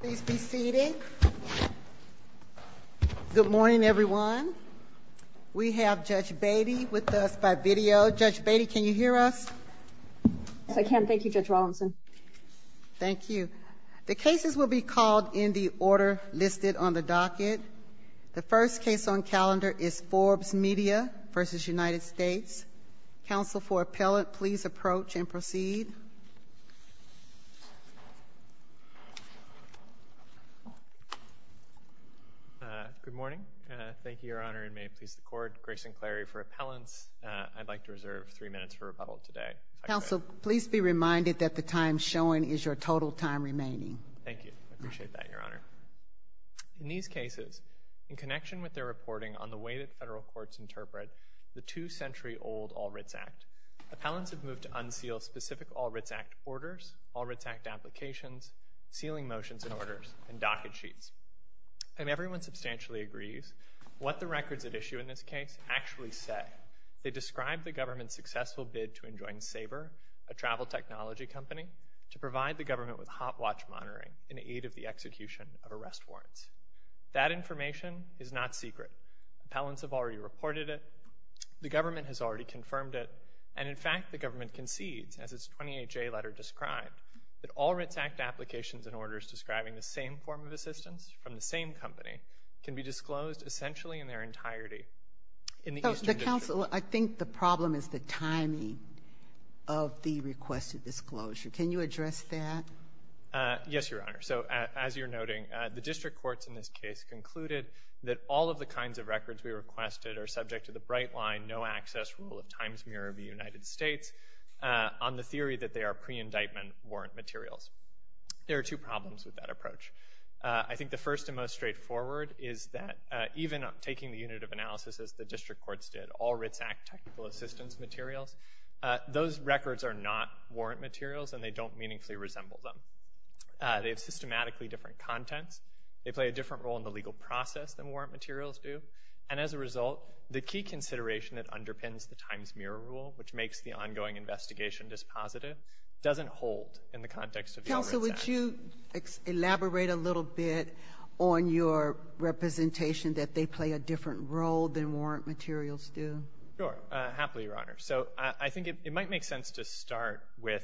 Please be seated. Good morning, everyone. We have Judge Beatty with us by video. Judge Beatty, can you hear us? Yes, I can. Thank you, Judge Rawlinson. Thank you. The cases will be called in the order listed on the docket. The first case on calendar is Forbes Media v. United States. Counsel for appellant, please approach and proceed. Good morning. Thank you, Your Honor. And may it please the Court, Grayson Clary for appellants. I'd like to reserve three minutes for rebuttal today. Counsel, please be reminded that the time shown is your total time remaining. Thank you. I appreciate that, Your Honor. In these the two-century-old All-Writs Act, appellants have moved to unseal specific All-Writs Act orders, All-Writs Act applications, sealing motions and orders, and docket sheets. And everyone substantially agrees what the records at issue in this case actually say. They describe the government's successful bid to enjoin Sabre, a travel technology company, to provide the government with hot watch monitoring in aid of the execution of arrest warrants. That information is not secret. Appellants have already reported it. The government has already confirmed it. And in fact, the government concedes, as its 28-J letter described, that All-Writs Act applications and orders describing the same form of assistance from the same company can be disclosed essentially in their entirety in the Eastern District. Counsel, I think the problem is the timing of the requested disclosure. Can you address that? Yes, Your Honor. The District Courts in this case concluded that all of the kinds of records we requested are subject to the bright line, no-access rule of times mirror of the United States on the theory that they are pre-indictment warrant materials. There are two problems with that approach. I think the first and most straightforward is that even taking the unit of analysis as the District Courts did, All-Writs Act technical assistance materials, those records are not warrant materials and they don't meaningfully resemble them. They have systematically different contents. They play a different role in the legal process than warrant materials do. And as a result, the key consideration that underpins the times mirror rule, which makes the ongoing investigation dispositive, doesn't hold in the context of the All-Writs Act. Counsel, would you elaborate a little bit on your representation that they play a different role than warrant materials do? Sure. Happily, Your Honor. So I think it might make sense to start with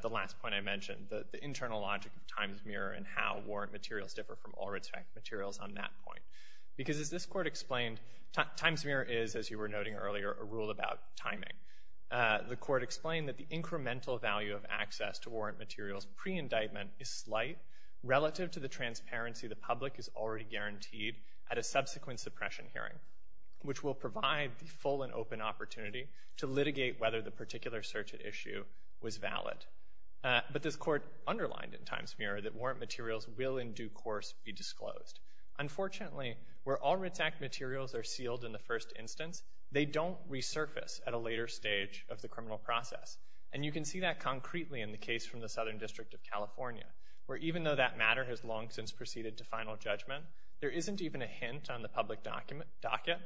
the last point I mentioned, the internal logic of times mirror and how warrant materials differ from All-Writs Act materials on that point. Because as this Court explained, times mirror is, as you were noting earlier, a rule about timing. The Court explained that the incremental value of access to warrant materials pre-indictment is slight relative to the transparency the public is already guaranteed at a subsequent suppression hearing, which will provide the full and open opportunity to litigate whether the particular search at issue was valid. But this Court underlined in times mirror that warrant materials will in due course be disclosed. Unfortunately, where All-Writs Act materials are sealed in the first instance, they don't resurface at a later stage of the criminal process. And you can see that concretely in the case from the Southern District of California, where even though that matter has long since proceeded to final judgment, there isn't even a hint on the public docket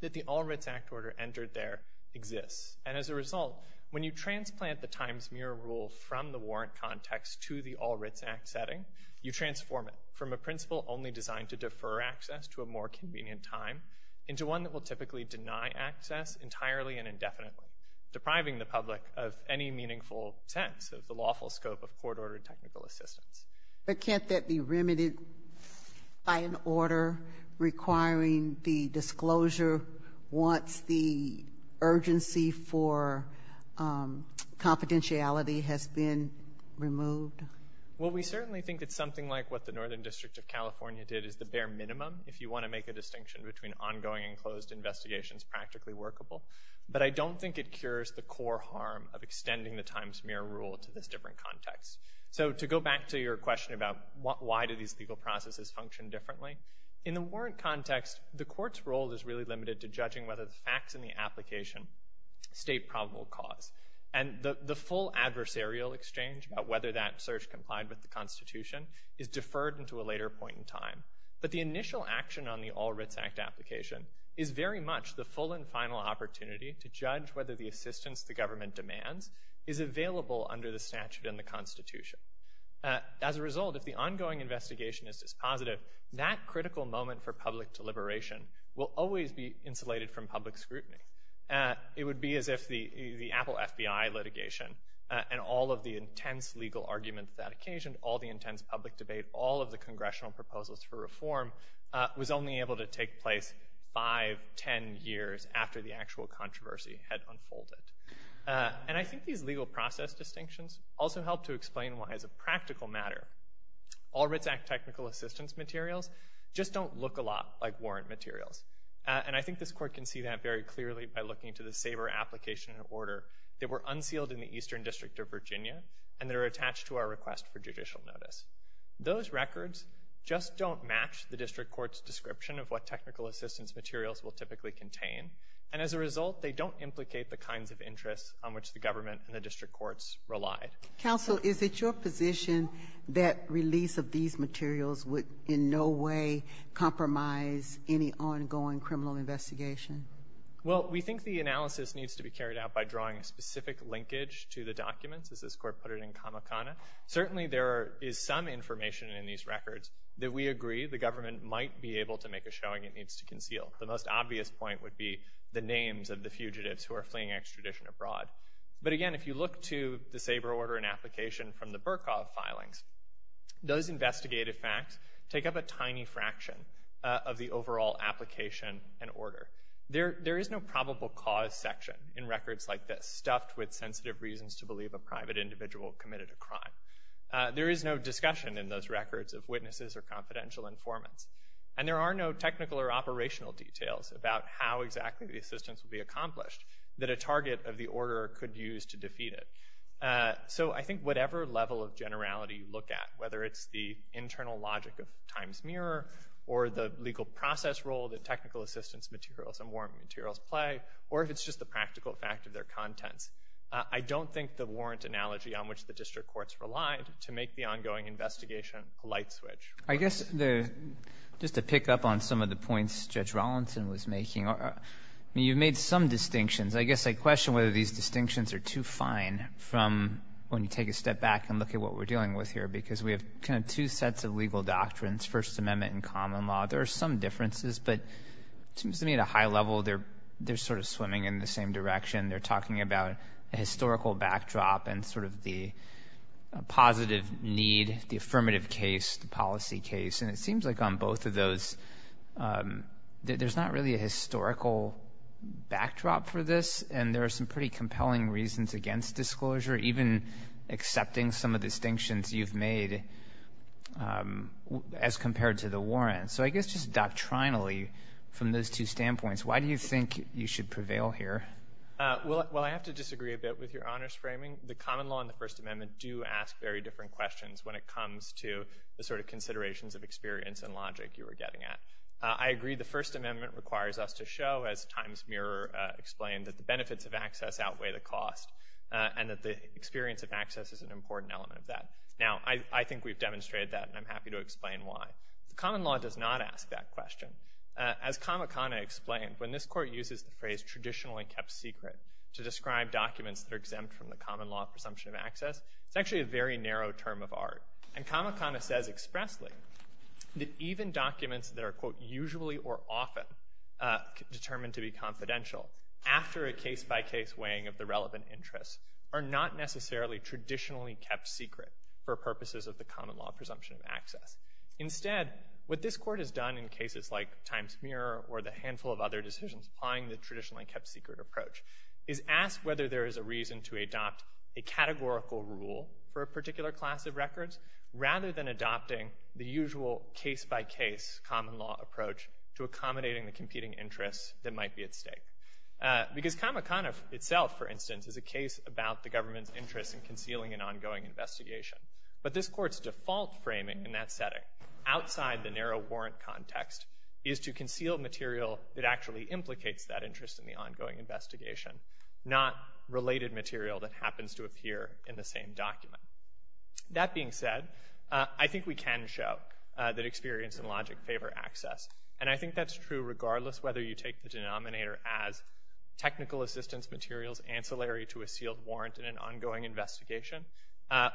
that the All-Writs Act order entered there exists. And as a result, when you transplant the times mirror rule from the warrant context to the All-Writs Act setting, you transform it from a principle only designed to defer access to a more convenient time into one that will typically deny access entirely and indefinitely, depriving the public of any meaningful sense of the lawful scope of court-ordered technical assistance. But can't that be remedied by an order requiring the disclosure once the urgency for confidentiality has been removed? Well, we certainly think it's something like what the Northern District of California did is the bare minimum, if you want to make a distinction between ongoing and closed investigations practically workable. But I don't think it cures the core harm of extending the times why do these legal processes function differently? In the warrant context, the court's role is really limited to judging whether the facts in the application state probable cause. And the full adversarial exchange about whether that search complied with the Constitution is deferred into a later point in time. But the initial action on the All-Writs Act application is very much the full and final opportunity to judge whether the assistance the government As a result, if the ongoing investigation is dispositive, that critical moment for public deliberation will always be insulated from public scrutiny. It would be as if the Apple FBI litigation and all of the intense legal arguments that occasioned, all the intense public debate, all of the congressional proposals for reform was only able to take place five, ten years after the actual controversy had unfolded. And I think these legal process distinctions also help to explain why, as a practical matter, All-Writs Act technical assistance materials just don't look a lot like warrant materials. And I think this court can see that very clearly by looking to the SABR application order that were unsealed in the Eastern District of Virginia and that are attached to our request for judicial notice. Those records just don't match the district court's description of what technical assistance materials will typically contain. And as a result, they don't implicate the kinds of Counsel, is it your position that release of these materials would in no way compromise any ongoing criminal investigation? Well, we think the analysis needs to be carried out by drawing a specific linkage to the documents, as this court put it in Kamakana. Certainly, there is some information in these records that we agree the government might be able to make a showing it needs to conceal. The most obvious point would be the names of the SABR order and application from the Burkov filings. Those investigative facts take up a tiny fraction of the overall application and order. There is no probable cause section in records like this, stuffed with sensitive reasons to believe a private individual committed a crime. There is no discussion in those records of witnesses or confidential informants. And there are no technical or operational details about how exactly the assistance will be accomplished that a target of the order could use to defeat it. So I think whatever level of generality you look at, whether it's the internal logic of Time's Mirror or the legal process role that technical assistance materials and warrant materials play, or if it's just the practical fact of their contents, I don't think the warrant analogy on which the district courts relied to make the ongoing investigation a light switch. I guess just to pick up on some of the points Judge Rollinson was making, you've made some distinctions. I guess I question whether these distinctions are too fine from when you take a step back and look at what we're dealing with here, because we have kind of two sets of legal doctrines, First Amendment and common law. There are some differences, but it seems to me at a high level they're sort of swimming in the same direction. They're talking about a historical backdrop and sort of the positive need, the affirmative case, the policy case. And it seems like on both of those, there's not really a historical backdrop for this, and there are some pretty compelling reasons against disclosure, even accepting some of the distinctions you've made as compared to the warrant. So I guess just doctrinally, from those two standpoints, why do you think you should prevail here? Well, I have to disagree a bit with your honest framing. The common law and the First Amendment do ask very different questions when it comes to the sort of considerations of experience and logic you were getting at. I agree the First Amendment requires us to show, as Times Mirror explained, that the benefits of access outweigh the cost, and that the experience of access is an important element of that. Now, I think we've demonstrated that, and I'm happy to explain why. The common law does not ask that question. As Kamakana explained, when this Court uses the phrase traditionally kept secret to describe documents that are exempt from the common law presumption of access, it's actually a very narrow term of expressly that even documents that are, quote, usually or often determined to be confidential after a case-by-case weighing of the relevant interests are not necessarily traditionally kept secret for purposes of the common law presumption of access. Instead, what this Court has done in cases like Times Mirror or the handful of other decisions applying the traditionally kept secret approach is ask whether there is a reason to adopt a categorical rule for a particular class of records, rather than adopting the usual case-by-case common law approach to accommodating the competing interests that might be at stake. Because Kamakana itself, for instance, is a case about the government's interest in concealing an ongoing investigation. But this Court's default framing in that setting, outside the narrow warrant context, is to conceal material that actually implicates that interest in the ongoing same document. That being said, I think we can show that experience and logic favor access. And I think that's true regardless whether you take the denominator as technical assistance materials ancillary to a sealed warrant in an ongoing investigation,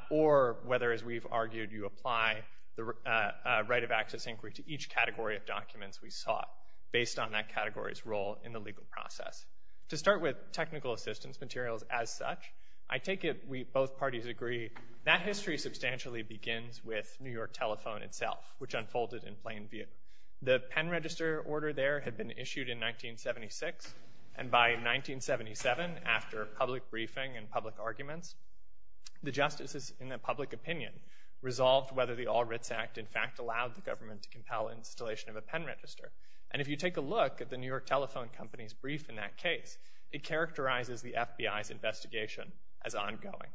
or whether, as we've argued, you apply the right of access inquiry to each category of documents we sought based on that category's role in the legal process. To start with technical assistance materials as such, I take it we both parties agree that history substantially begins with New York Telephone itself, which unfolded in plain view. The pen register order there had been issued in 1976, and by 1977, after public briefing and public arguments, the justices in the public opinion resolved whether the All Writs Act in fact allowed the government to compel installation of a pen register. And if you take a look at the New York Telephone company's brief in that case, it characterizes the FBI's investigation as ongoing.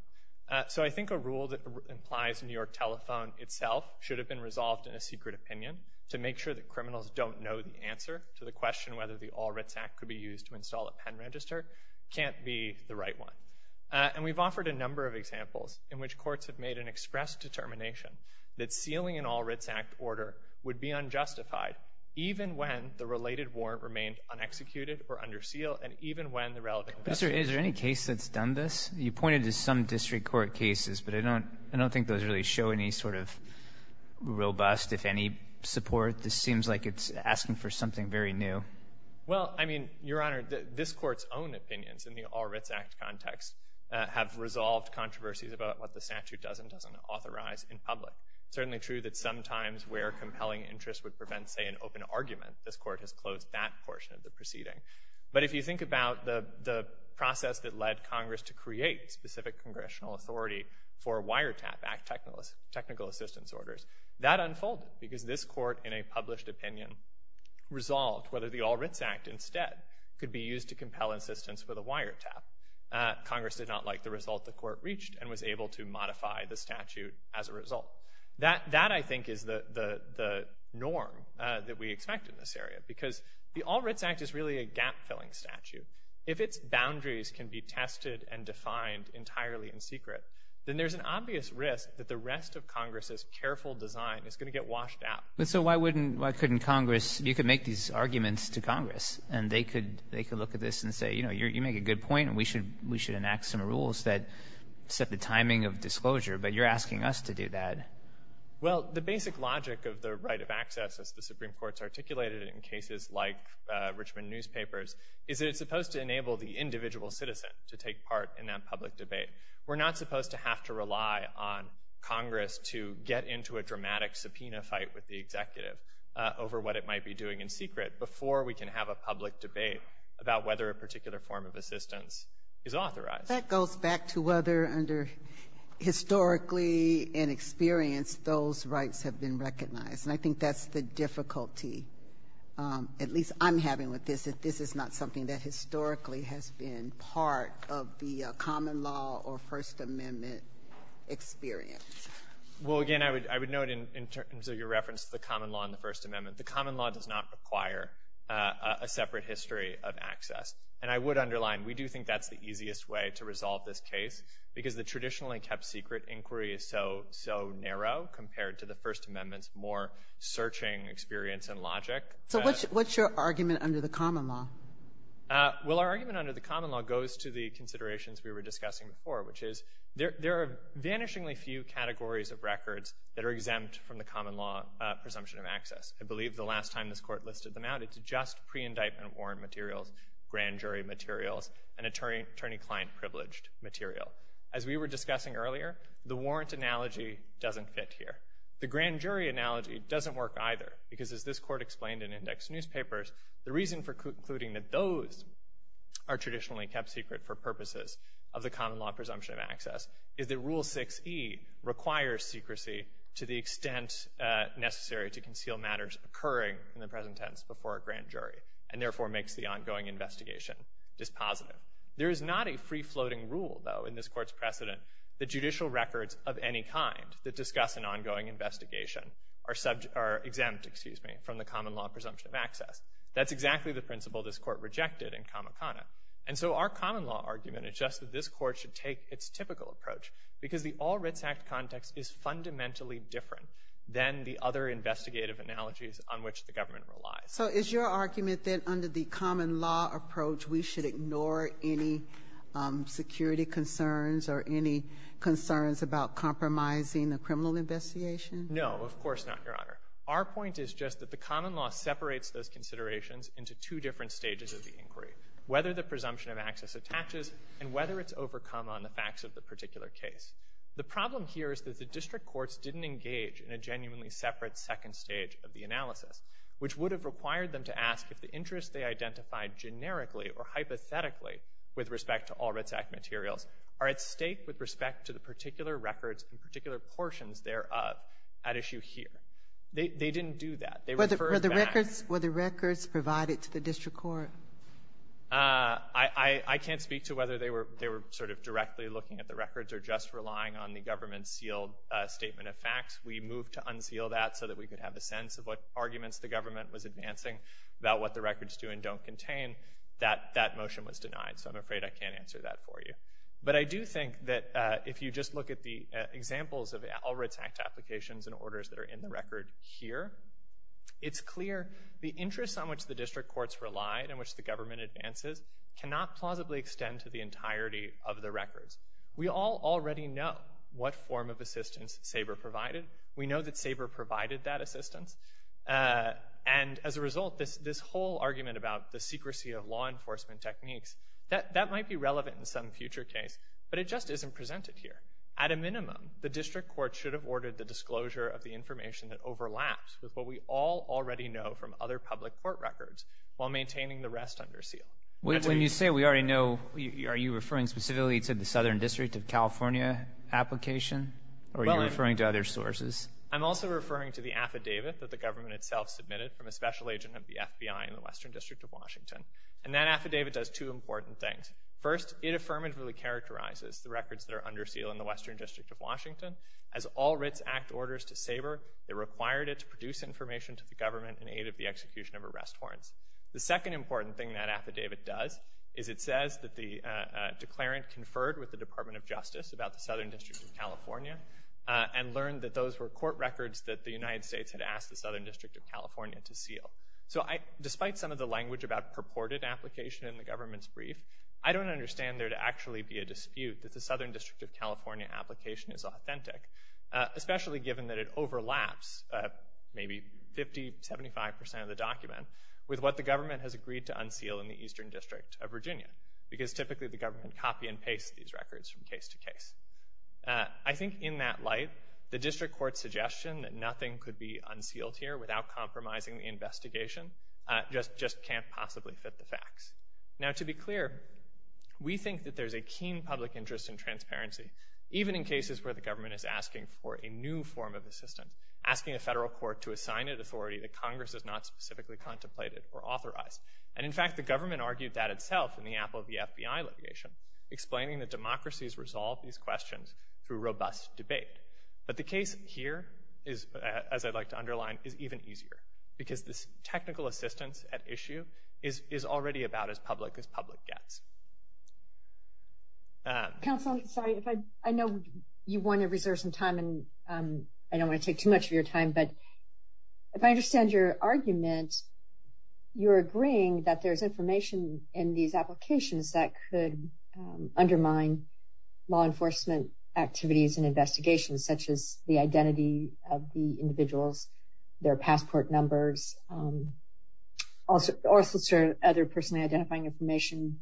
So I think a rule that implies New York Telephone itself should have been resolved in a secret opinion to make sure that criminals don't know the answer to the question whether the All Writs Act could be used to install a pen register can't be the right one. And we've offered a number of examples in which courts have made an express determination that sealing an All Writs Act order would be unjustified even when the related warrant remained unexecuted or under seal, and even when the relevant question was answered. Mr. Is there any case that's done this? You pointed to some district court cases, but I don't I don't think those really show any sort of robust, if any, support. This seems like it's asking for something very new. Well, I mean, Your Honor, this Court's own opinions in the All Writs Act context have resolved controversies about what the statute does and doesn't authorize in public. It's certainly true that sometimes where compelling interest would prevent, say, an open argument, this Court has closed that portion of the proceeding. But if you think about the process that led Congress to create specific congressional authority for wiretap act technical assistance orders, that unfolded because this Court, in a published opinion, resolved whether the All Writs Act instead could be used to compel insistence with a wiretap. Congress did not like the result the Court reached and was able to modify the statute as a result. That I think is the norm that we expect in this area, because the All Writs Act is really a gap-filling statute. If its boundaries can be tested and defined entirely in secret, then there's an obvious risk that the rest of Congress's careful design is going to get washed out. But so why wouldn't, why couldn't Congress, you could make these arguments to Congress and they could they could look at this and say, you know, you make a good point and we should enact some rules that set the timing of disclosure, but you're asking us to do that. Well, the basic logic of the right of access, as the Supreme Court's articulated in cases like Richmond newspapers, is that it's supposed to enable the individual citizen to take part in that public debate. We're not supposed to have to rely on Congress to get into a dramatic subpoena fight with the executive over what it might be doing in secret before we can have a public debate about whether a particular form of assistance is authorized. That goes back to whether, under historically and experience, those rights have been recognized. And I think that's the difficulty, at least I'm having with this, that this is not something that historically has been part of the common law or First Amendment experience. Well, again, I would note in terms of your reference to the common law and the First Amendment, the common law does not require a separate history of access. And I would underline, we do think that's the easiest way to resolve this case, because the traditionally kept secret inquiry is so, so narrow compared to the First Amendment's more searching experience and logic. So what's your argument under the common law? Well, our argument under the common law goes to the considerations we were discussing before, which is there are vanishingly few categories of records that are exempt from the common law presumption of access. I believe the last time this Court listed them out, it's just pre-indictment warrant materials, grand jury materials, and attorney-client privileged material. As we were discussing earlier, the warrant analogy doesn't fit here. The grand jury analogy doesn't work either, because as this Court explained in index newspapers, the reason for concluding that those are traditionally kept secret for purposes of the common law presumption of access is that Rule 6e requires secrecy to the extent necessary to conceal matters occurring in the present tense before a grand jury, and therefore makes the ongoing investigation dispositive. There is not a free-floating rule, though, in this Court's precedent that judicial records of any kind that discuss an ongoing investigation are exempt from the common law presumption of access. That's exactly the principle this Court rejected in Kamakana. And so our common law argument is just that this Court should take its typical approach, because the All-Writs Act context is fundamentally different than the other investigative analogies on which the government relies. So is your argument that under the common law approach, we should ignore any security concerns or any concerns about compromising the criminal investigation? No, of course not, Your Honor. Our point is just that the common law separates those considerations into two different stages of the inquiry, whether the presumption of access attaches and whether it's overcome on the facts of the particular case. The problem here is that the district courts didn't engage in a genuinely separate second stage of the analysis, which would have required them to ask if the interests they identified generically or hypothetically with respect to All-Writs Act materials are at stake with respect to the particular records and particular portions thereof at issue here. They didn't do that. Were the records provided to the district court? I can't speak to whether they were sort of directly looking at the records or just relying on the government-sealed statement of facts. We moved to unseal that so that we could have a sense of what arguments the government was advancing about what the records do and don't contain. That motion was denied, so I'm afraid I can't answer that for you. But I do think that if you just look at the examples of All-Writs Act applications and it's clear the interests on which the district courts relied and which the government advances cannot plausibly extend to the entirety of the records. We all already know what form of assistance SABRE provided. We know that SABRE provided that assistance. And as a result, this whole argument about the secrecy of law enforcement techniques, that might be relevant in some future case, but it just isn't presented here. At a minimum, the district court should have ordered the disclosure of the information that overlaps with what we all already know from other public court records while maintaining the rest under seal. When you say we already know, are you referring specifically to the Southern District of California application? Or are you referring to other sources? I'm also referring to the affidavit that the government itself submitted from a special agent of the FBI in the Western District of Washington. And that affidavit does two important things. First, it affirmatively characterizes the records that are under seal in the Western District of Washington. As all Writs Act orders to SABRE, it required it to produce information to the government in aid of the execution of arrest warrants. The second important thing that affidavit does is it says that the declarant conferred with the Department of Justice about the Southern District of California and learned that those were court records that the United States had asked the Southern District of California to seal. So I, despite some of the language about purported application in the government's brief, I don't understand there to actually be a dispute that the Southern District of California application is authentic, especially given that it overlaps maybe 50, 75 percent of the document with what the government has agreed to unseal in the Eastern District of Virginia. Because typically the government copy and pastes these records from case to case. I think in that light, the District Court's suggestion that nothing could be unsealed here without compromising the investigation just can't possibly fit the facts. Now to be clear, we think that there's a keen public interest in transparency, even in cases where the government is asking for a new form of assistance, asking a federal court to assign it authority that Congress has not specifically contemplated or authorized. And in fact, the government argued that itself in the Apple v. FBI litigation, explaining that democracies resolve these questions through robust debate. But the case here is, as I'd like to underline, is even easier because this technical assistance at issue is already about as public as public gets. Counsel, sorry, I know you want to reserve some time and I don't want to take too much of your time, but if I understand your argument, you're agreeing that there's information in these applications that could undermine law enforcement activities and investigations, such as the identity of the individuals, their passport numbers, or other personally identifying information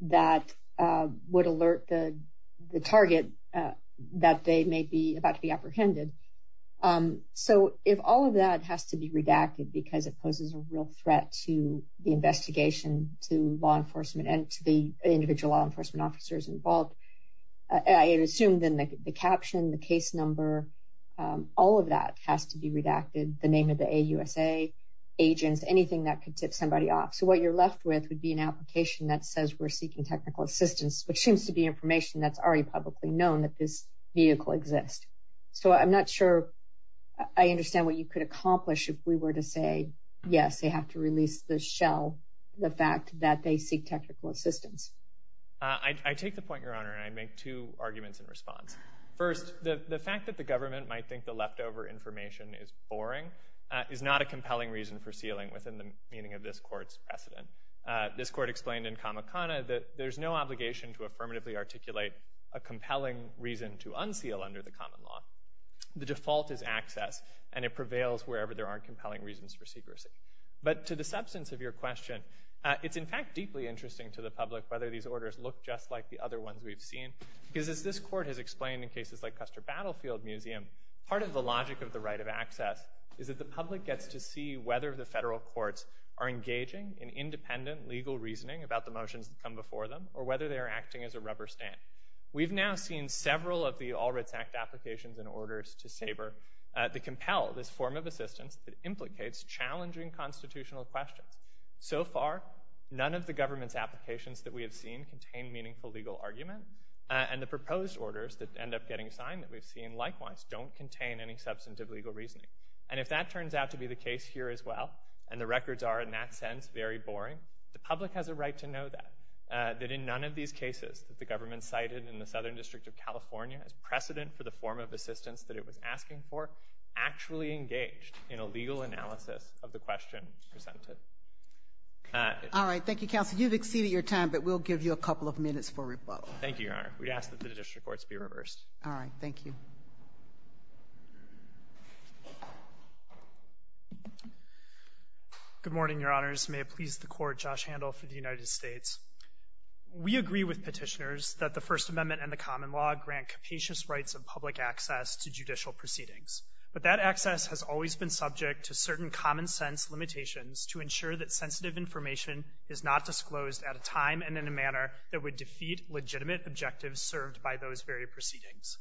that would alert the target that they may be about to be apprehended. So if all of that has to be redacted because it poses a real threat to the investigation, to law enforcement, and to the individual law enforcement officers involved, I assume then the caption, the case number, all of that has to be redacted, the name of the AUSA, agents, anything that could tip somebody off. So what you're left with would be an application that says we're seeking technical assistance, which seems to be information that's already publicly known that this vehicle exists. So I'm not sure I understand what you could accomplish if we were to say, yes, they have to release the shell, the fact that they seek technical assistance. I take the point, Your Honor, and I make two arguments in response. First, the fact that the government might think the leftover information is boring is not a compelling reason for sealing within the meaning of this Court's precedent. This Court explained in Kamakana that there's no obligation to affirmatively articulate a compelling reason to unseal under the common law. The default is access, and it prevails wherever there aren't compelling reasons for secrecy. But to the substance of your question, it's, in fact, deeply interesting to the public whether these orders look just like the other ones we've seen, because as this Court has explained in cases like Custer Battlefield Museum, part of the logic of the right of to see whether the federal courts are engaging in independent legal reasoning about the motions that come before them or whether they are acting as a rubber stamp. We've now seen several of the All Writs Act applications and orders to SABR that compel this form of assistance that implicates challenging constitutional questions. So far, none of the government's applications that we have seen contain meaningful legal argument, and the proposed orders that end up getting signed that we've seen, likewise, don't contain any substantive legal reasoning. And if that turns out to be the case here as well, and the records are, in that sense, very boring, the public has a right to know that, that in none of these cases that the government cited in the Southern District of California as precedent for the form of assistance that it was asking for actually engaged in a legal analysis of the question presented. All right. Thank you, counsel. You've exceeded your time, but we'll give you a couple of minutes for rebuttal. Thank you, Your Honor. We ask that the district courts be reversed. All right. Thank you. Good morning, Your Honors. May it please the Court, Josh Handel for the United States. We agree with petitioners that the First Amendment and the common law grant capacious rights of public access to judicial proceedings, but that access has always been subject to certain common sense limitations to ensure that sensitive information is not disclosed at a time and in a manner that would defeat legitimate objectives served by those very proceedings.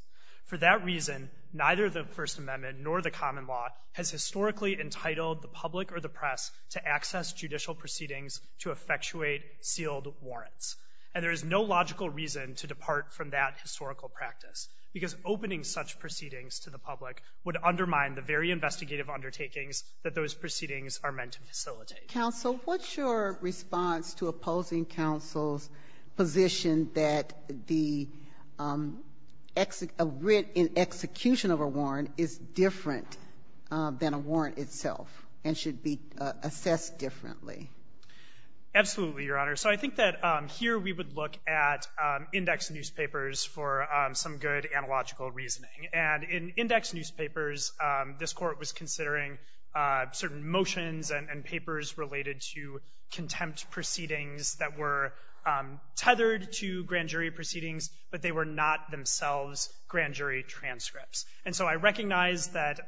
For that reason, neither the First Amendment nor the common law has historically entitled the public or the press to access judicial proceedings to effectuate sealed warrants. And there is no logical reason to depart from that historical practice because opening such proceedings to the public would undermine the very investigative undertakings that those proceedings are meant to facilitate. Counsel, what's your response to opposing counsel's position that the writ in execution of a warrant is different than a warrant itself and should be assessed differently? Absolutely, Your Honor. So I think that here we would look at index newspapers for some good analogical reasoning. And in index newspapers, this Court was considering certain motions and papers related to contempt proceedings that were tethered to grand jury proceedings, but they were not themselves grand jury transcripts. And so I recognize that,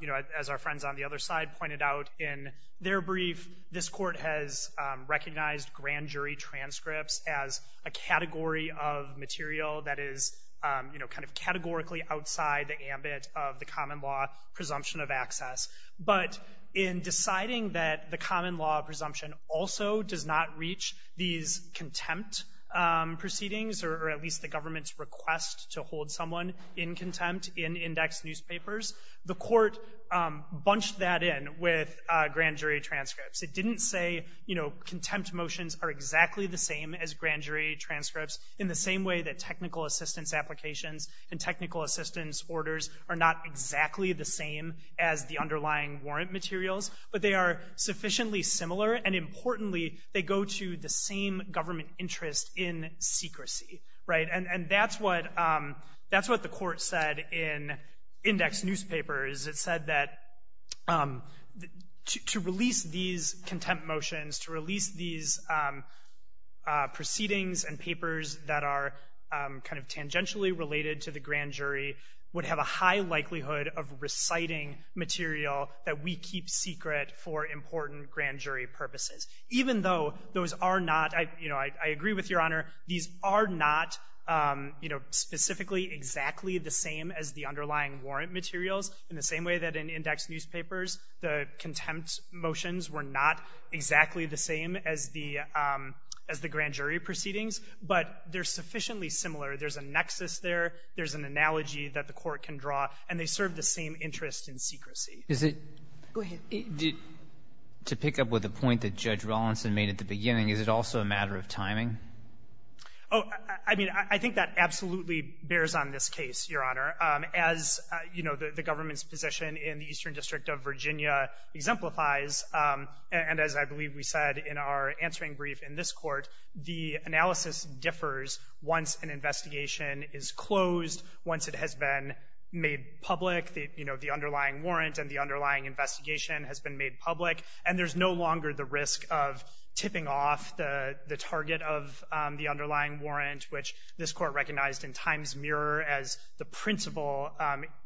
you know, as our friends on the other side pointed out in their brief, this Court has recognized grand jury transcripts as a category of material that is, you know, kind of categorically outside the ambit of the common law presumption of access. But in deciding that the common law presumption also does not reach these contempt proceedings, or at least the government's request to hold someone in contempt in index newspapers, the Court bunched that in with grand jury transcripts. It didn't say, you know, contempt motions are exactly the same as grand jury transcripts in the same way that technical assistance applications and technical assistance orders are not exactly the same as the underlying warrant materials, but they are sufficiently similar, and importantly, they go to the same government interest in secrecy, right? And that's what the Court said in index newspapers. It said that to release these contempt motions, to release these proceedings and papers that are kind of tangentially related to the grand jury would have a high likelihood of reciting material that we keep secret for important grand jury purposes. Even though those are not, you know, I agree with Your Honor, these are not, you know, specifically exactly the same as the underlying warrant materials in the same way that in index newspapers the contempt motions were not exactly the same as the grand jury proceedings, but they're sufficiently similar. There's a nexus there. There's an analogy that the Court can draw. And they serve the same interest in secrecy. Go ahead. To pick up with the point that Judge Rawlinson made at the beginning, is it also a matter of timing? Oh, I mean, I think that absolutely bears on this case, Your Honor. As, you know, the government's position in the Eastern District of Virginia exemplifies, and as I believe we said in our answering brief in this Court, the analysis differs once an investigation is closed, once it has been made public, you know, the underlying warrant and the underlying investigation has been made public, and there's no longer the risk of tipping off the target of the underlying warrant, which this Court recognized in Times Mirror as the principal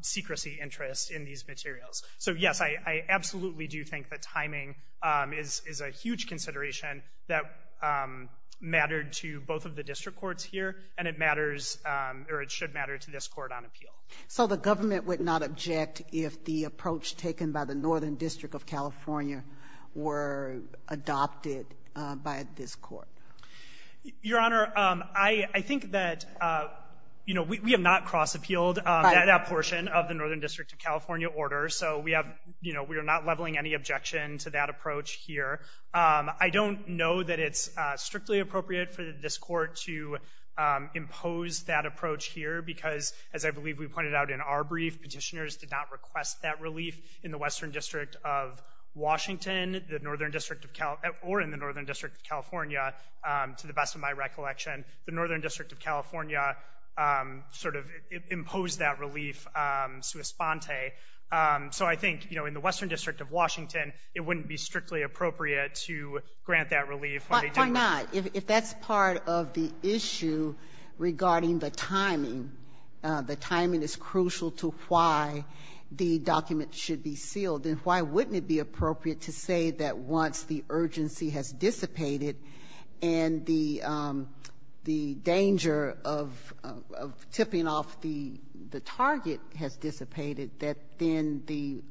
secrecy interest in these materials. So, yes, I absolutely do think that timing is a huge consideration that mattered to both of the district courts here, and it matters, or it should matter to this Court on appeal. So the government would not object if the approach taken by the Northern District of California were adopted by this Court? Your Honor, I think that, you know, we have not cross-appealed that portion of the Northern District of California, so we have, you know, we are not leveling any objection to that approach here. I don't know that it's strictly appropriate for this Court to impose that approach here because, as I believe we pointed out in our brief, petitioners did not request that relief in the Western District of Washington, the Northern District of Cal—or in the Northern District of California, to the best of my recollection. The Northern District of California sort of imposed that relief sui sponte. So I think, you know, in the Western District of Washington, it wouldn't be strictly appropriate to grant that relief. Why not? If that's part of the issue regarding the timing, the timing is crucial to why the document should be sealed, then why wouldn't it be appropriate to say that once the urgency has been dissipated, that then the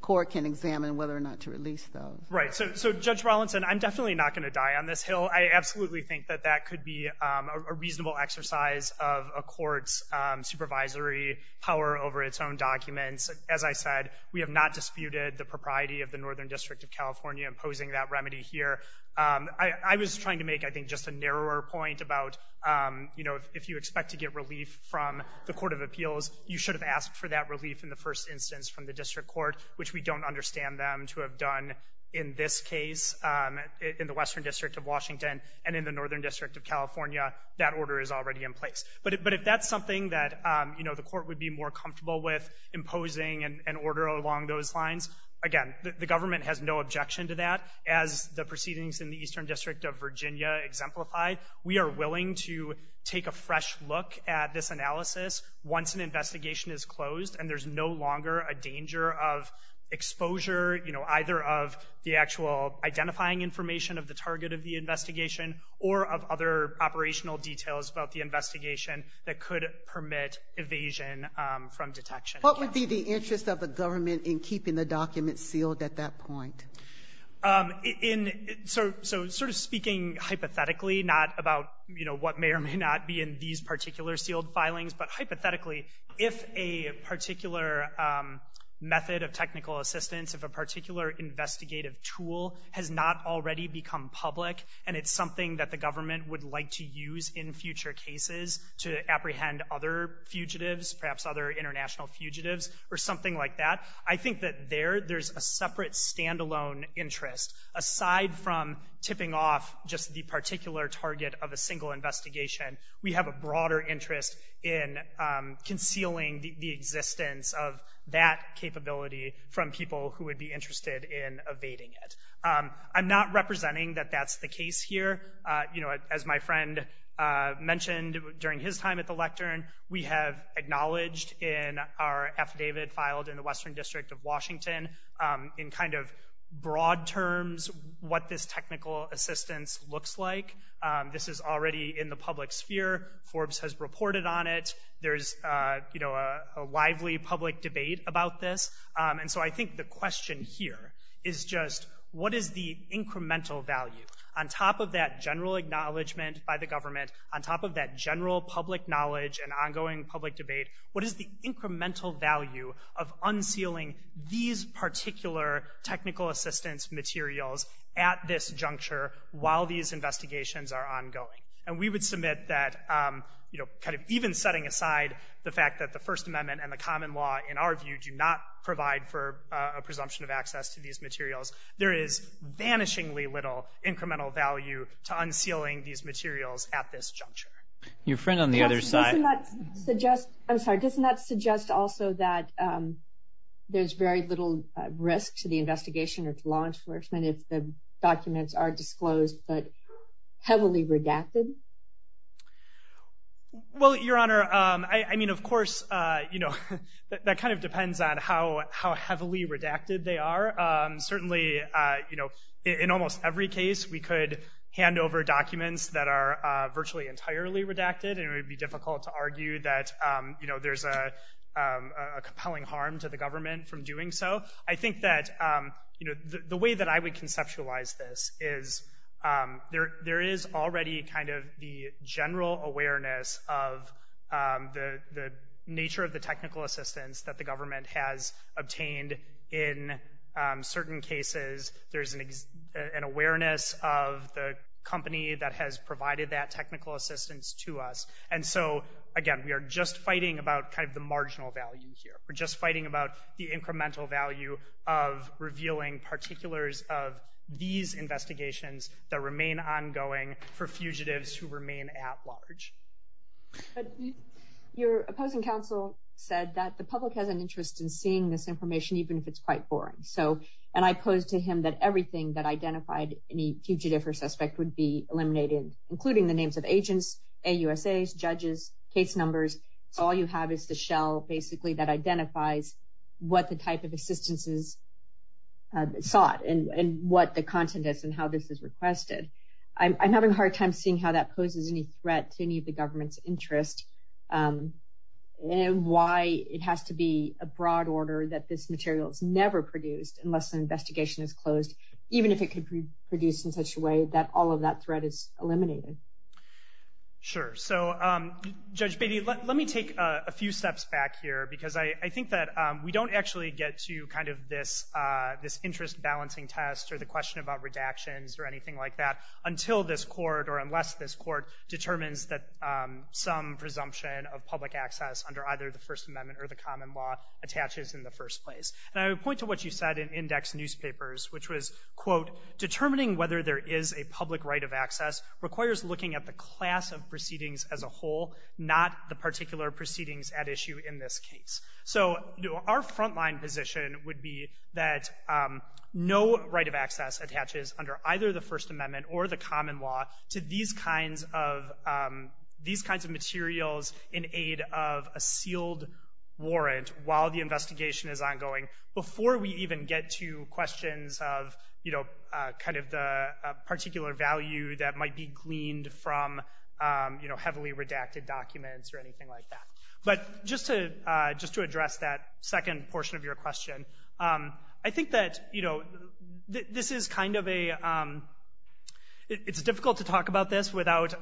Court can examine whether or not to release those? Right. So, Judge Rawlinson, I'm definitely not going to die on this Hill. I absolutely think that that could be a reasonable exercise of a Court's supervisory power over its own documents. As I said, we have not disputed the propriety of the Northern District of California imposing that remedy here. I was trying to make, I think, just a narrower point about, you know, if you expect to get for that relief in the first instance from the District Court, which we don't understand them to have done in this case in the Western District of Washington and in the Northern District of California, that order is already in place. But if that's something that, you know, the Court would be more comfortable with, imposing an order along those lines, again, the government has no objection to that. As the proceedings in the Eastern District of Virginia exemplify, we are willing to take a fresh look at this analysis once an investigation is closed and there's no longer a danger of exposure, you know, either of the actual identifying information of the target of the investigation or of other operational details about the investigation that could permit evasion from detection. What would be the interest of the government in keeping the documents sealed at that point? So sort of speaking hypothetically, not about, you know, what may or may not be in these particular sealed filings, but hypothetically, if a particular method of technical assistance, if a particular investigative tool has not already become public and it's something that the government would like to use in future cases to apprehend other fugitives, perhaps other international fugitives or something like that, I think that there, there's a separate standalone interest. Aside from tipping off just the particular target of a single investigation, we have a broader interest in concealing the existence of that capability from people who would be interested in evading it. I'm not representing that that's the case here. You know, as my friend mentioned during his time at the lectern, we have acknowledged in our affidavit filed in the Western District of Washington, in kind of broad terms, what this technical assistance looks like. This is already in the public sphere. Forbes has reported on it. There's, you know, a lively public debate about this. And so I think the question here is just, what is the incremental value on top of that general acknowledgement by the government, on top of that general public knowledge and what is the incremental value of unsealing these particular technical assistance materials at this juncture while these investigations are ongoing? And we would submit that, you know, kind of even setting aside the fact that the First Amendment and the common law, in our view, do not provide for a presumption of access to these materials. There is vanishingly little incremental value to unsealing these materials at this juncture. Your friend on the other side. Doesn't that suggest, I'm sorry, doesn't that suggest also that there's very little risk to the investigation or to law enforcement if the documents are disclosed but heavily redacted? Well, Your Honor, I mean, of course, you know, that kind of depends on how heavily redacted they are. Certainly, you know, in almost every case, we could hand over documents that are virtually entirely redacted and it would be difficult to argue that, you know, there's a compelling harm to the government from doing so. I think that, you know, the way that I would conceptualize this is there is already kind of the general awareness of the nature of the technical assistance that the government has obtained in certain cases. There's an awareness of the company that has provided that technical assistance to us. And so, again, we are just fighting about kind of the marginal value here. We're just fighting about the incremental value of revealing particulars of these investigations that remain ongoing for fugitives who remain at large. Your opposing counsel said that the public has an interest in seeing this information even if it's quite boring. So, and I posed to him that everything that identified any fugitive or suspect would be eliminated, including the names of agents, AUSAs, judges, case numbers. It's all you have is the shell, basically, that identifies what the type of assistance is sought and what the content is and how this is requested. I'm having a hard time seeing how that poses any threat to any of the government's interest and why it has to be a broad order that this material is never produced unless an investigation is closed, even if it could be produced in such a way that all of that threat is eliminated. Sure. So, Judge Beatty, let me take a few steps back here because I think that we don't actually get to kind of this interest balancing test or the question about redactions or anything like that until this court or unless this court determines that some presumption of public access under either the First Amendment or the common law attaches in the first place. And I would point to what you said in index newspapers, which was, quote, determining whether there is a public right of access requires looking at the class of proceedings as a whole, not the particular proceedings at issue in this case. So, our frontline position would be that no right of access attaches under either the First Amendment or the common law to these kinds of materials in aid of a sealed warrant while the investigation is ongoing before we even get to questions of, you know, kind of the particular value that might be gleaned from, you know, heavily redacted documents or anything like that. But just to address that second portion of your question, I think that, you know, this is kind of a—it's difficult to talk about this without,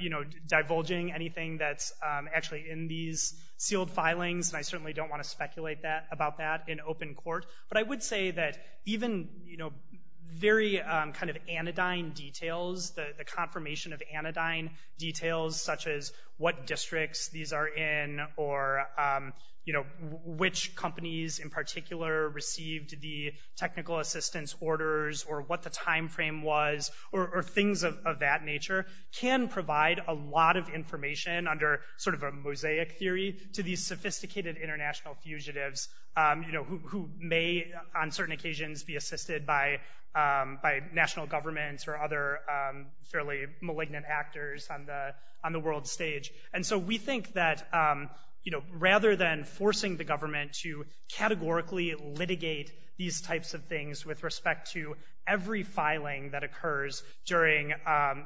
you know, divulging anything that's actually in these sealed filings, and I certainly don't want to speculate about that in open court. But I would say that even, you know, very kind of anodyne details, the confirmation of anodyne details such as what districts these are in or, you know, which companies in particular received the technical assistance orders or what the timeframe was or things of that nature can provide a lot of information under sort of a mosaic theory to these sophisticated international fugitives, you know, who may on certain occasions be assisted by national governments or other fairly malignant actors on the world stage. And so we think that, you know, rather than forcing the government to categorically litigate these types of things with respect to every filing that occurs during,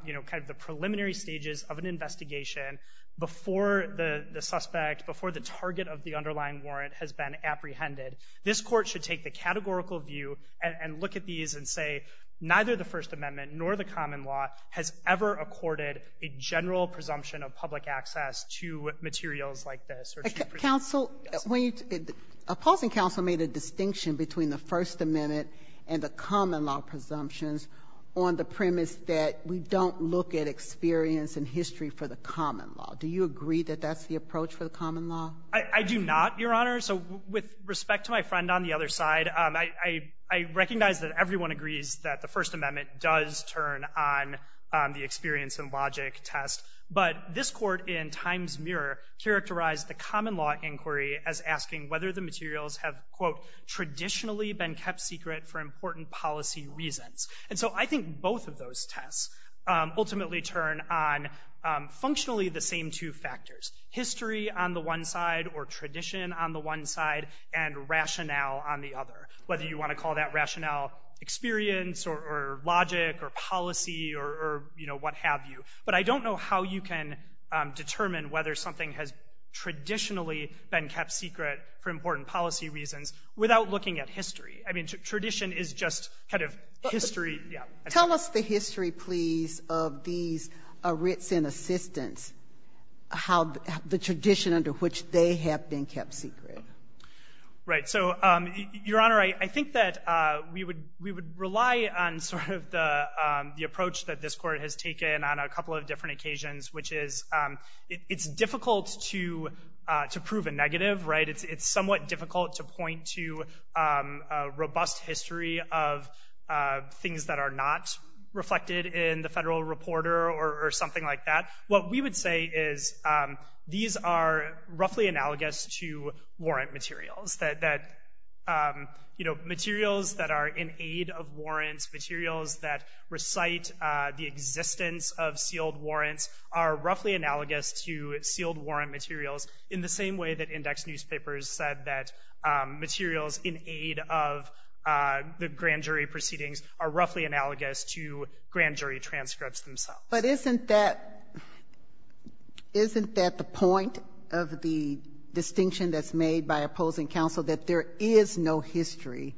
you know, kind of the preliminary stages of an investigation before the suspect, before the target of the underlying warrant has been apprehended, this court should take the categorical view and look at these and say, neither the First Amendment nor the common law has ever accorded a general presumption of public access to materials like this or to the presumption of public access. Ginsburg. A pausing counsel made a distinction between the First Amendment and the common law presumptions on the premise that we don't look at experience and history for the common law. Do you agree that that's the approach for the common law? I do not, Your Honor. So with respect to my friend on the other side, I recognize that everyone agrees that the First Amendment does turn on the experience and logic test. But this court in Times Mirror characterized the common law inquiry as asking whether the materials have, quote, traditionally been kept secret for important policy reasons. And so I think both of those tests ultimately turn on functionally the same two factors, history on the one side or tradition on the one side and rationale on the other. Whether you want to call that rationale experience or logic or policy or, you know, what have you. But I don't know how you can determine whether something has traditionally been kept secret for important policy reasons without looking at history. I mean, tradition is just kind of history. Yeah. Tell us the history, please, of these writs in assistance, how the tradition under which they have been kept secret. Right. So, Your Honor, I think that we would rely on sort of the approach that this court has taken on a couple of different occasions, which is it's difficult to prove a negative, right? It's somewhat difficult to point to a robust history of things that are not reflected in the federal reporter or something like that. What we would say is these are roughly analogous to warrant materials that, you know, materials that are in aid of warrants, materials that recite the existence of sealed warrants are roughly analogous to sealed warrant materials in the same way that index newspapers said that materials in aid of the grand jury proceedings are roughly analogous to grand jury transcripts themselves. But isn't that the point of the distinction that's made by opposing counsel, that there is no history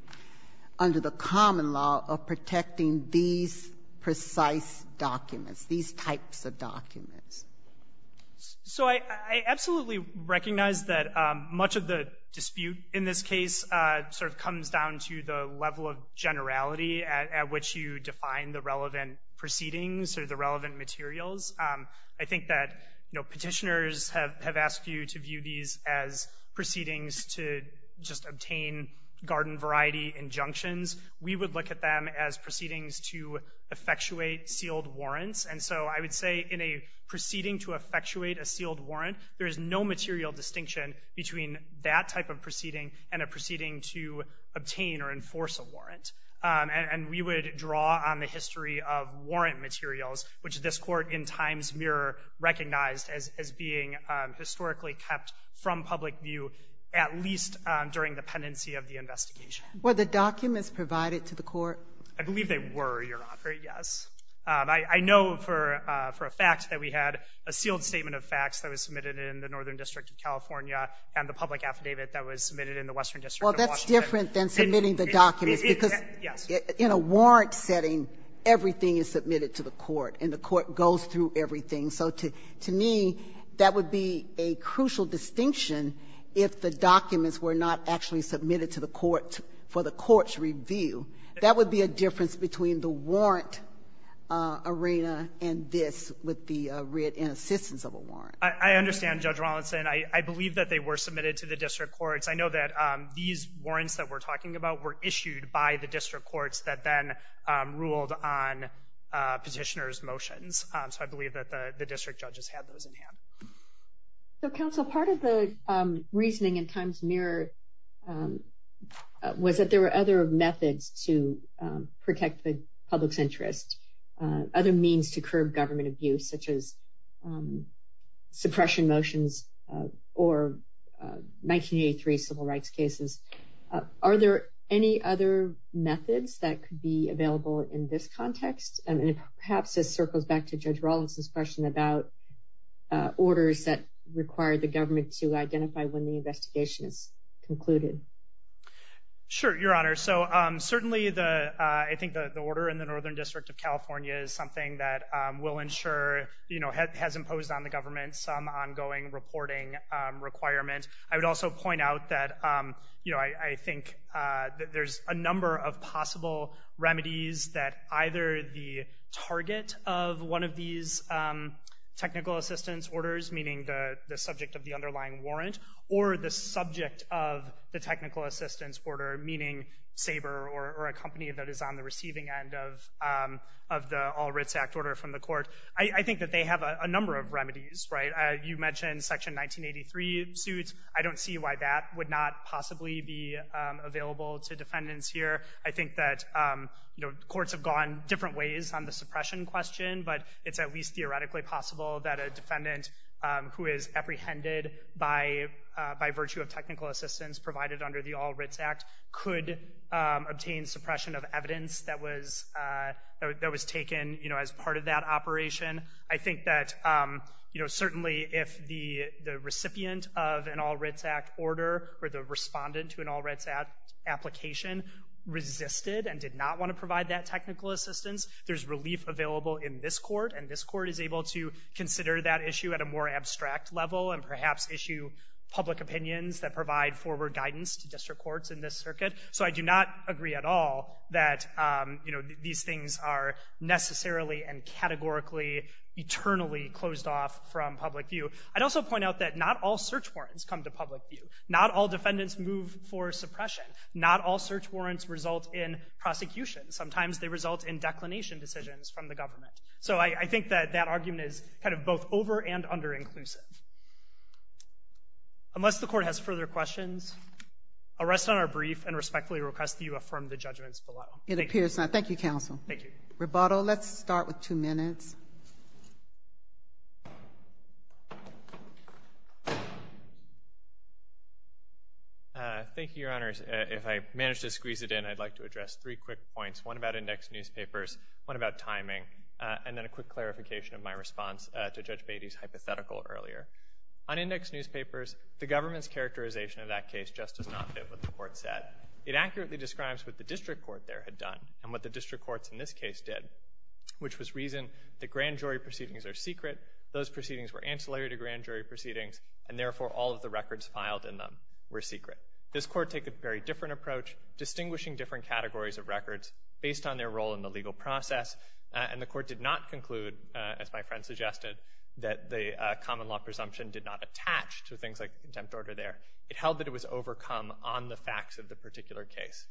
under the common law of protecting these precise documents, these types of documents? So I absolutely recognize that much of the dispute in this case sort of comes down to the level of generality at which you define the relevant proceedings or the relevant materials. I think that, you know, petitioners have asked you to view these as proceedings to just obtain garden variety injunctions. We would look at them as proceedings to effectuate sealed warrants. And so I would say in a proceeding to effectuate a sealed warrant, there is no material distinction between that type of proceeding and a proceeding to obtain or enforce a warrant. And we would draw on the history of warrant materials, which this court in times mirror recognized as being historically kept from public view, at least during the pendency of the investigation. Were the documents provided to the court? I believe they were, Your Honor, yes. I know for a fact that we had a sealed statement of facts that was submitted in the Northern District of California and the public affidavit that was submitted in the Western District of Washington. Well, that's different than submitting the documents, because in a warrant setting, everything is submitted to the court, and the court goes through everything. So to me, that would be a crucial distinction if the documents were not actually submitted to the court for the court's review. That would be a difference between the warrant arena and this with the writ in assistance of a warrant. I understand, Judge Rawlinson. I believe that they were submitted to the district courts. I know that these warrants that we're talking about were issued by the district courts that then ruled on petitioner's motions. So I believe that the district judges had those in hand. So, counsel, part of the reasoning in times mirror was that there were other methods to protect the public's interest, other means to curb government abuse, such as suppression motions or 1983 civil rights cases. Are there any other methods that could be available in this context? And perhaps this circles back to Judge Rawlinson's question about orders that require the government to identify when the investigation is concluded. Sure, Your Honor. So certainly, I think the order in the Northern District of California is something that will ensure, you know, has imposed on the government some ongoing reporting requirement. I would also point out that, you know, I think that there's a number of possible remedies that either the target of one of these technical assistance orders, meaning the subject of the underlying warrant, or the subject of the technical assistance order, meaning Sabre or a company that is on the receiving end of the All Writs Act order from the court. I think that they have a number of remedies, right? You mentioned Section 1983 suits. I don't see why that would not possibly be available to defendants here. I think that, you know, courts have gone different ways on the suppression question, but it's at least theoretically possible that a defendant who is apprehended by virtue of obtained suppression of evidence that was taken, you know, as part of that operation. I think that, you know, certainly if the recipient of an All Writs Act order or the respondent to an All Writs Act application resisted and did not want to provide that technical assistance, there's relief available in this court, and this court is able to consider that issue at a more abstract level and perhaps issue public opinions that provide forward guidance to district courts in this circuit. So I do not agree at all that, you know, these things are necessarily and categorically, eternally closed off from public view. I'd also point out that not all search warrants come to public view. Not all defendants move for suppression. Not all search warrants result in prosecution. Sometimes they result in declination decisions from the government. So I think that that argument is kind of both over- and under-inclusive. Unless the court has further questions, I'll rest on our brief and respectfully request that you affirm the judgments below. It appears not. Thank you, counsel. Thank you. Rebuttal. Let's start with two minutes. Thank you, Your Honors. If I manage to squeeze it in, I'd like to address three quick points, one about index newspapers, one about timing, and then a quick clarification of my response to Judge Beatty's hypothetical earlier. On index newspapers, the government's characterization of that case just does not fit what the court said. It accurately describes what the district court there had done and what the district courts in this case did, which was reason that grand jury proceedings are secret, those proceedings were ancillary to grand jury proceedings, and therefore all of the records filed in them were secret. This court took a very different approach, distinguishing different categories of records based on their role in the legal process, and the court did not conclude, as my friend suggested, that the common law presumption did not attach to things like contempt order there. It held that it was overcome on the facts of the particular case.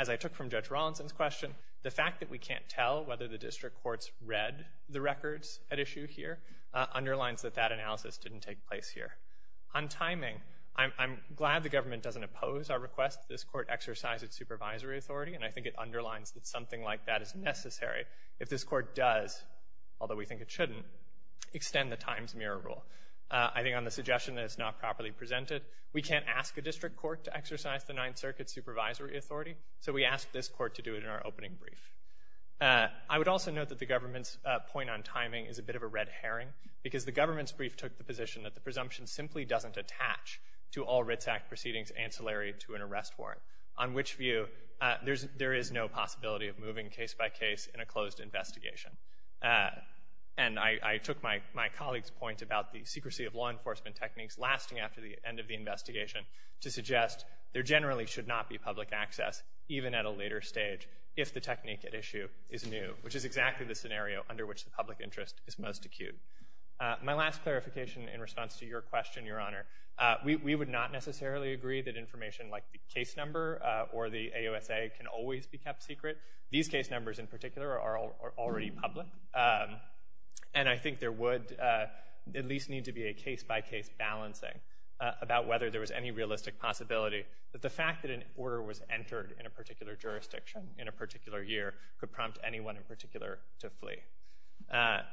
As I took from Judge Rawlinson's question, the fact that we can't tell whether the district courts read the records at issue here underlines that that analysis didn't take place here. On timing, I'm glad the government doesn't oppose our request that this court exercise its supervisory authority, and I think it underlines that something like that is necessary. If this court does, although we think it shouldn't, extend the time's mirror rule, I think on the suggestion that it's not properly presented, we can't ask a district court to exercise the Ninth Circuit's supervisory authority, so we ask this court to do it in our opening brief. I would also note that the government's point on timing is a bit of a red herring, because the government's brief took the position that the presumption simply doesn't attach to all Writz Act proceedings ancillary to an arrest warrant, on which view there is no possibility of moving case by case in a closed investigation. And I took my colleague's point about the secrecy of law enforcement techniques lasting after the end of the investigation to suggest there generally should not be public access, even at a later stage, if the technique at issue is new, which is exactly the scenario under which the public interest is most acute. My last clarification in response to your question, Your Honor, we would not necessarily agree that information like the case number or the AOSA can always be kept secret. These case numbers in particular are already public, and I think there would at least need to be a case-by-case balancing about whether there was any realistic possibility that the fact that an order was entered in a particular jurisdiction in a particular year could prompt anyone in particular to flee.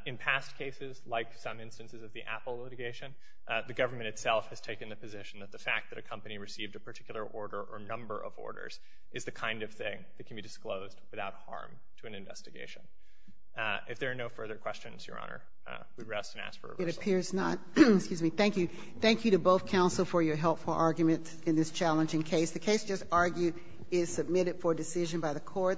In past cases, like some instances of the Apple litigation, the government itself has received a particular order or number of orders is the kind of thing that can be disclosed without harm to an investigation. If there are no further questions, Your Honor, we rest and ask for a reversal. It appears not. Excuse me. Thank you. Thank you to both counsel for your helpful argument in this challenging case. The case just argued is submitted for decision by the court.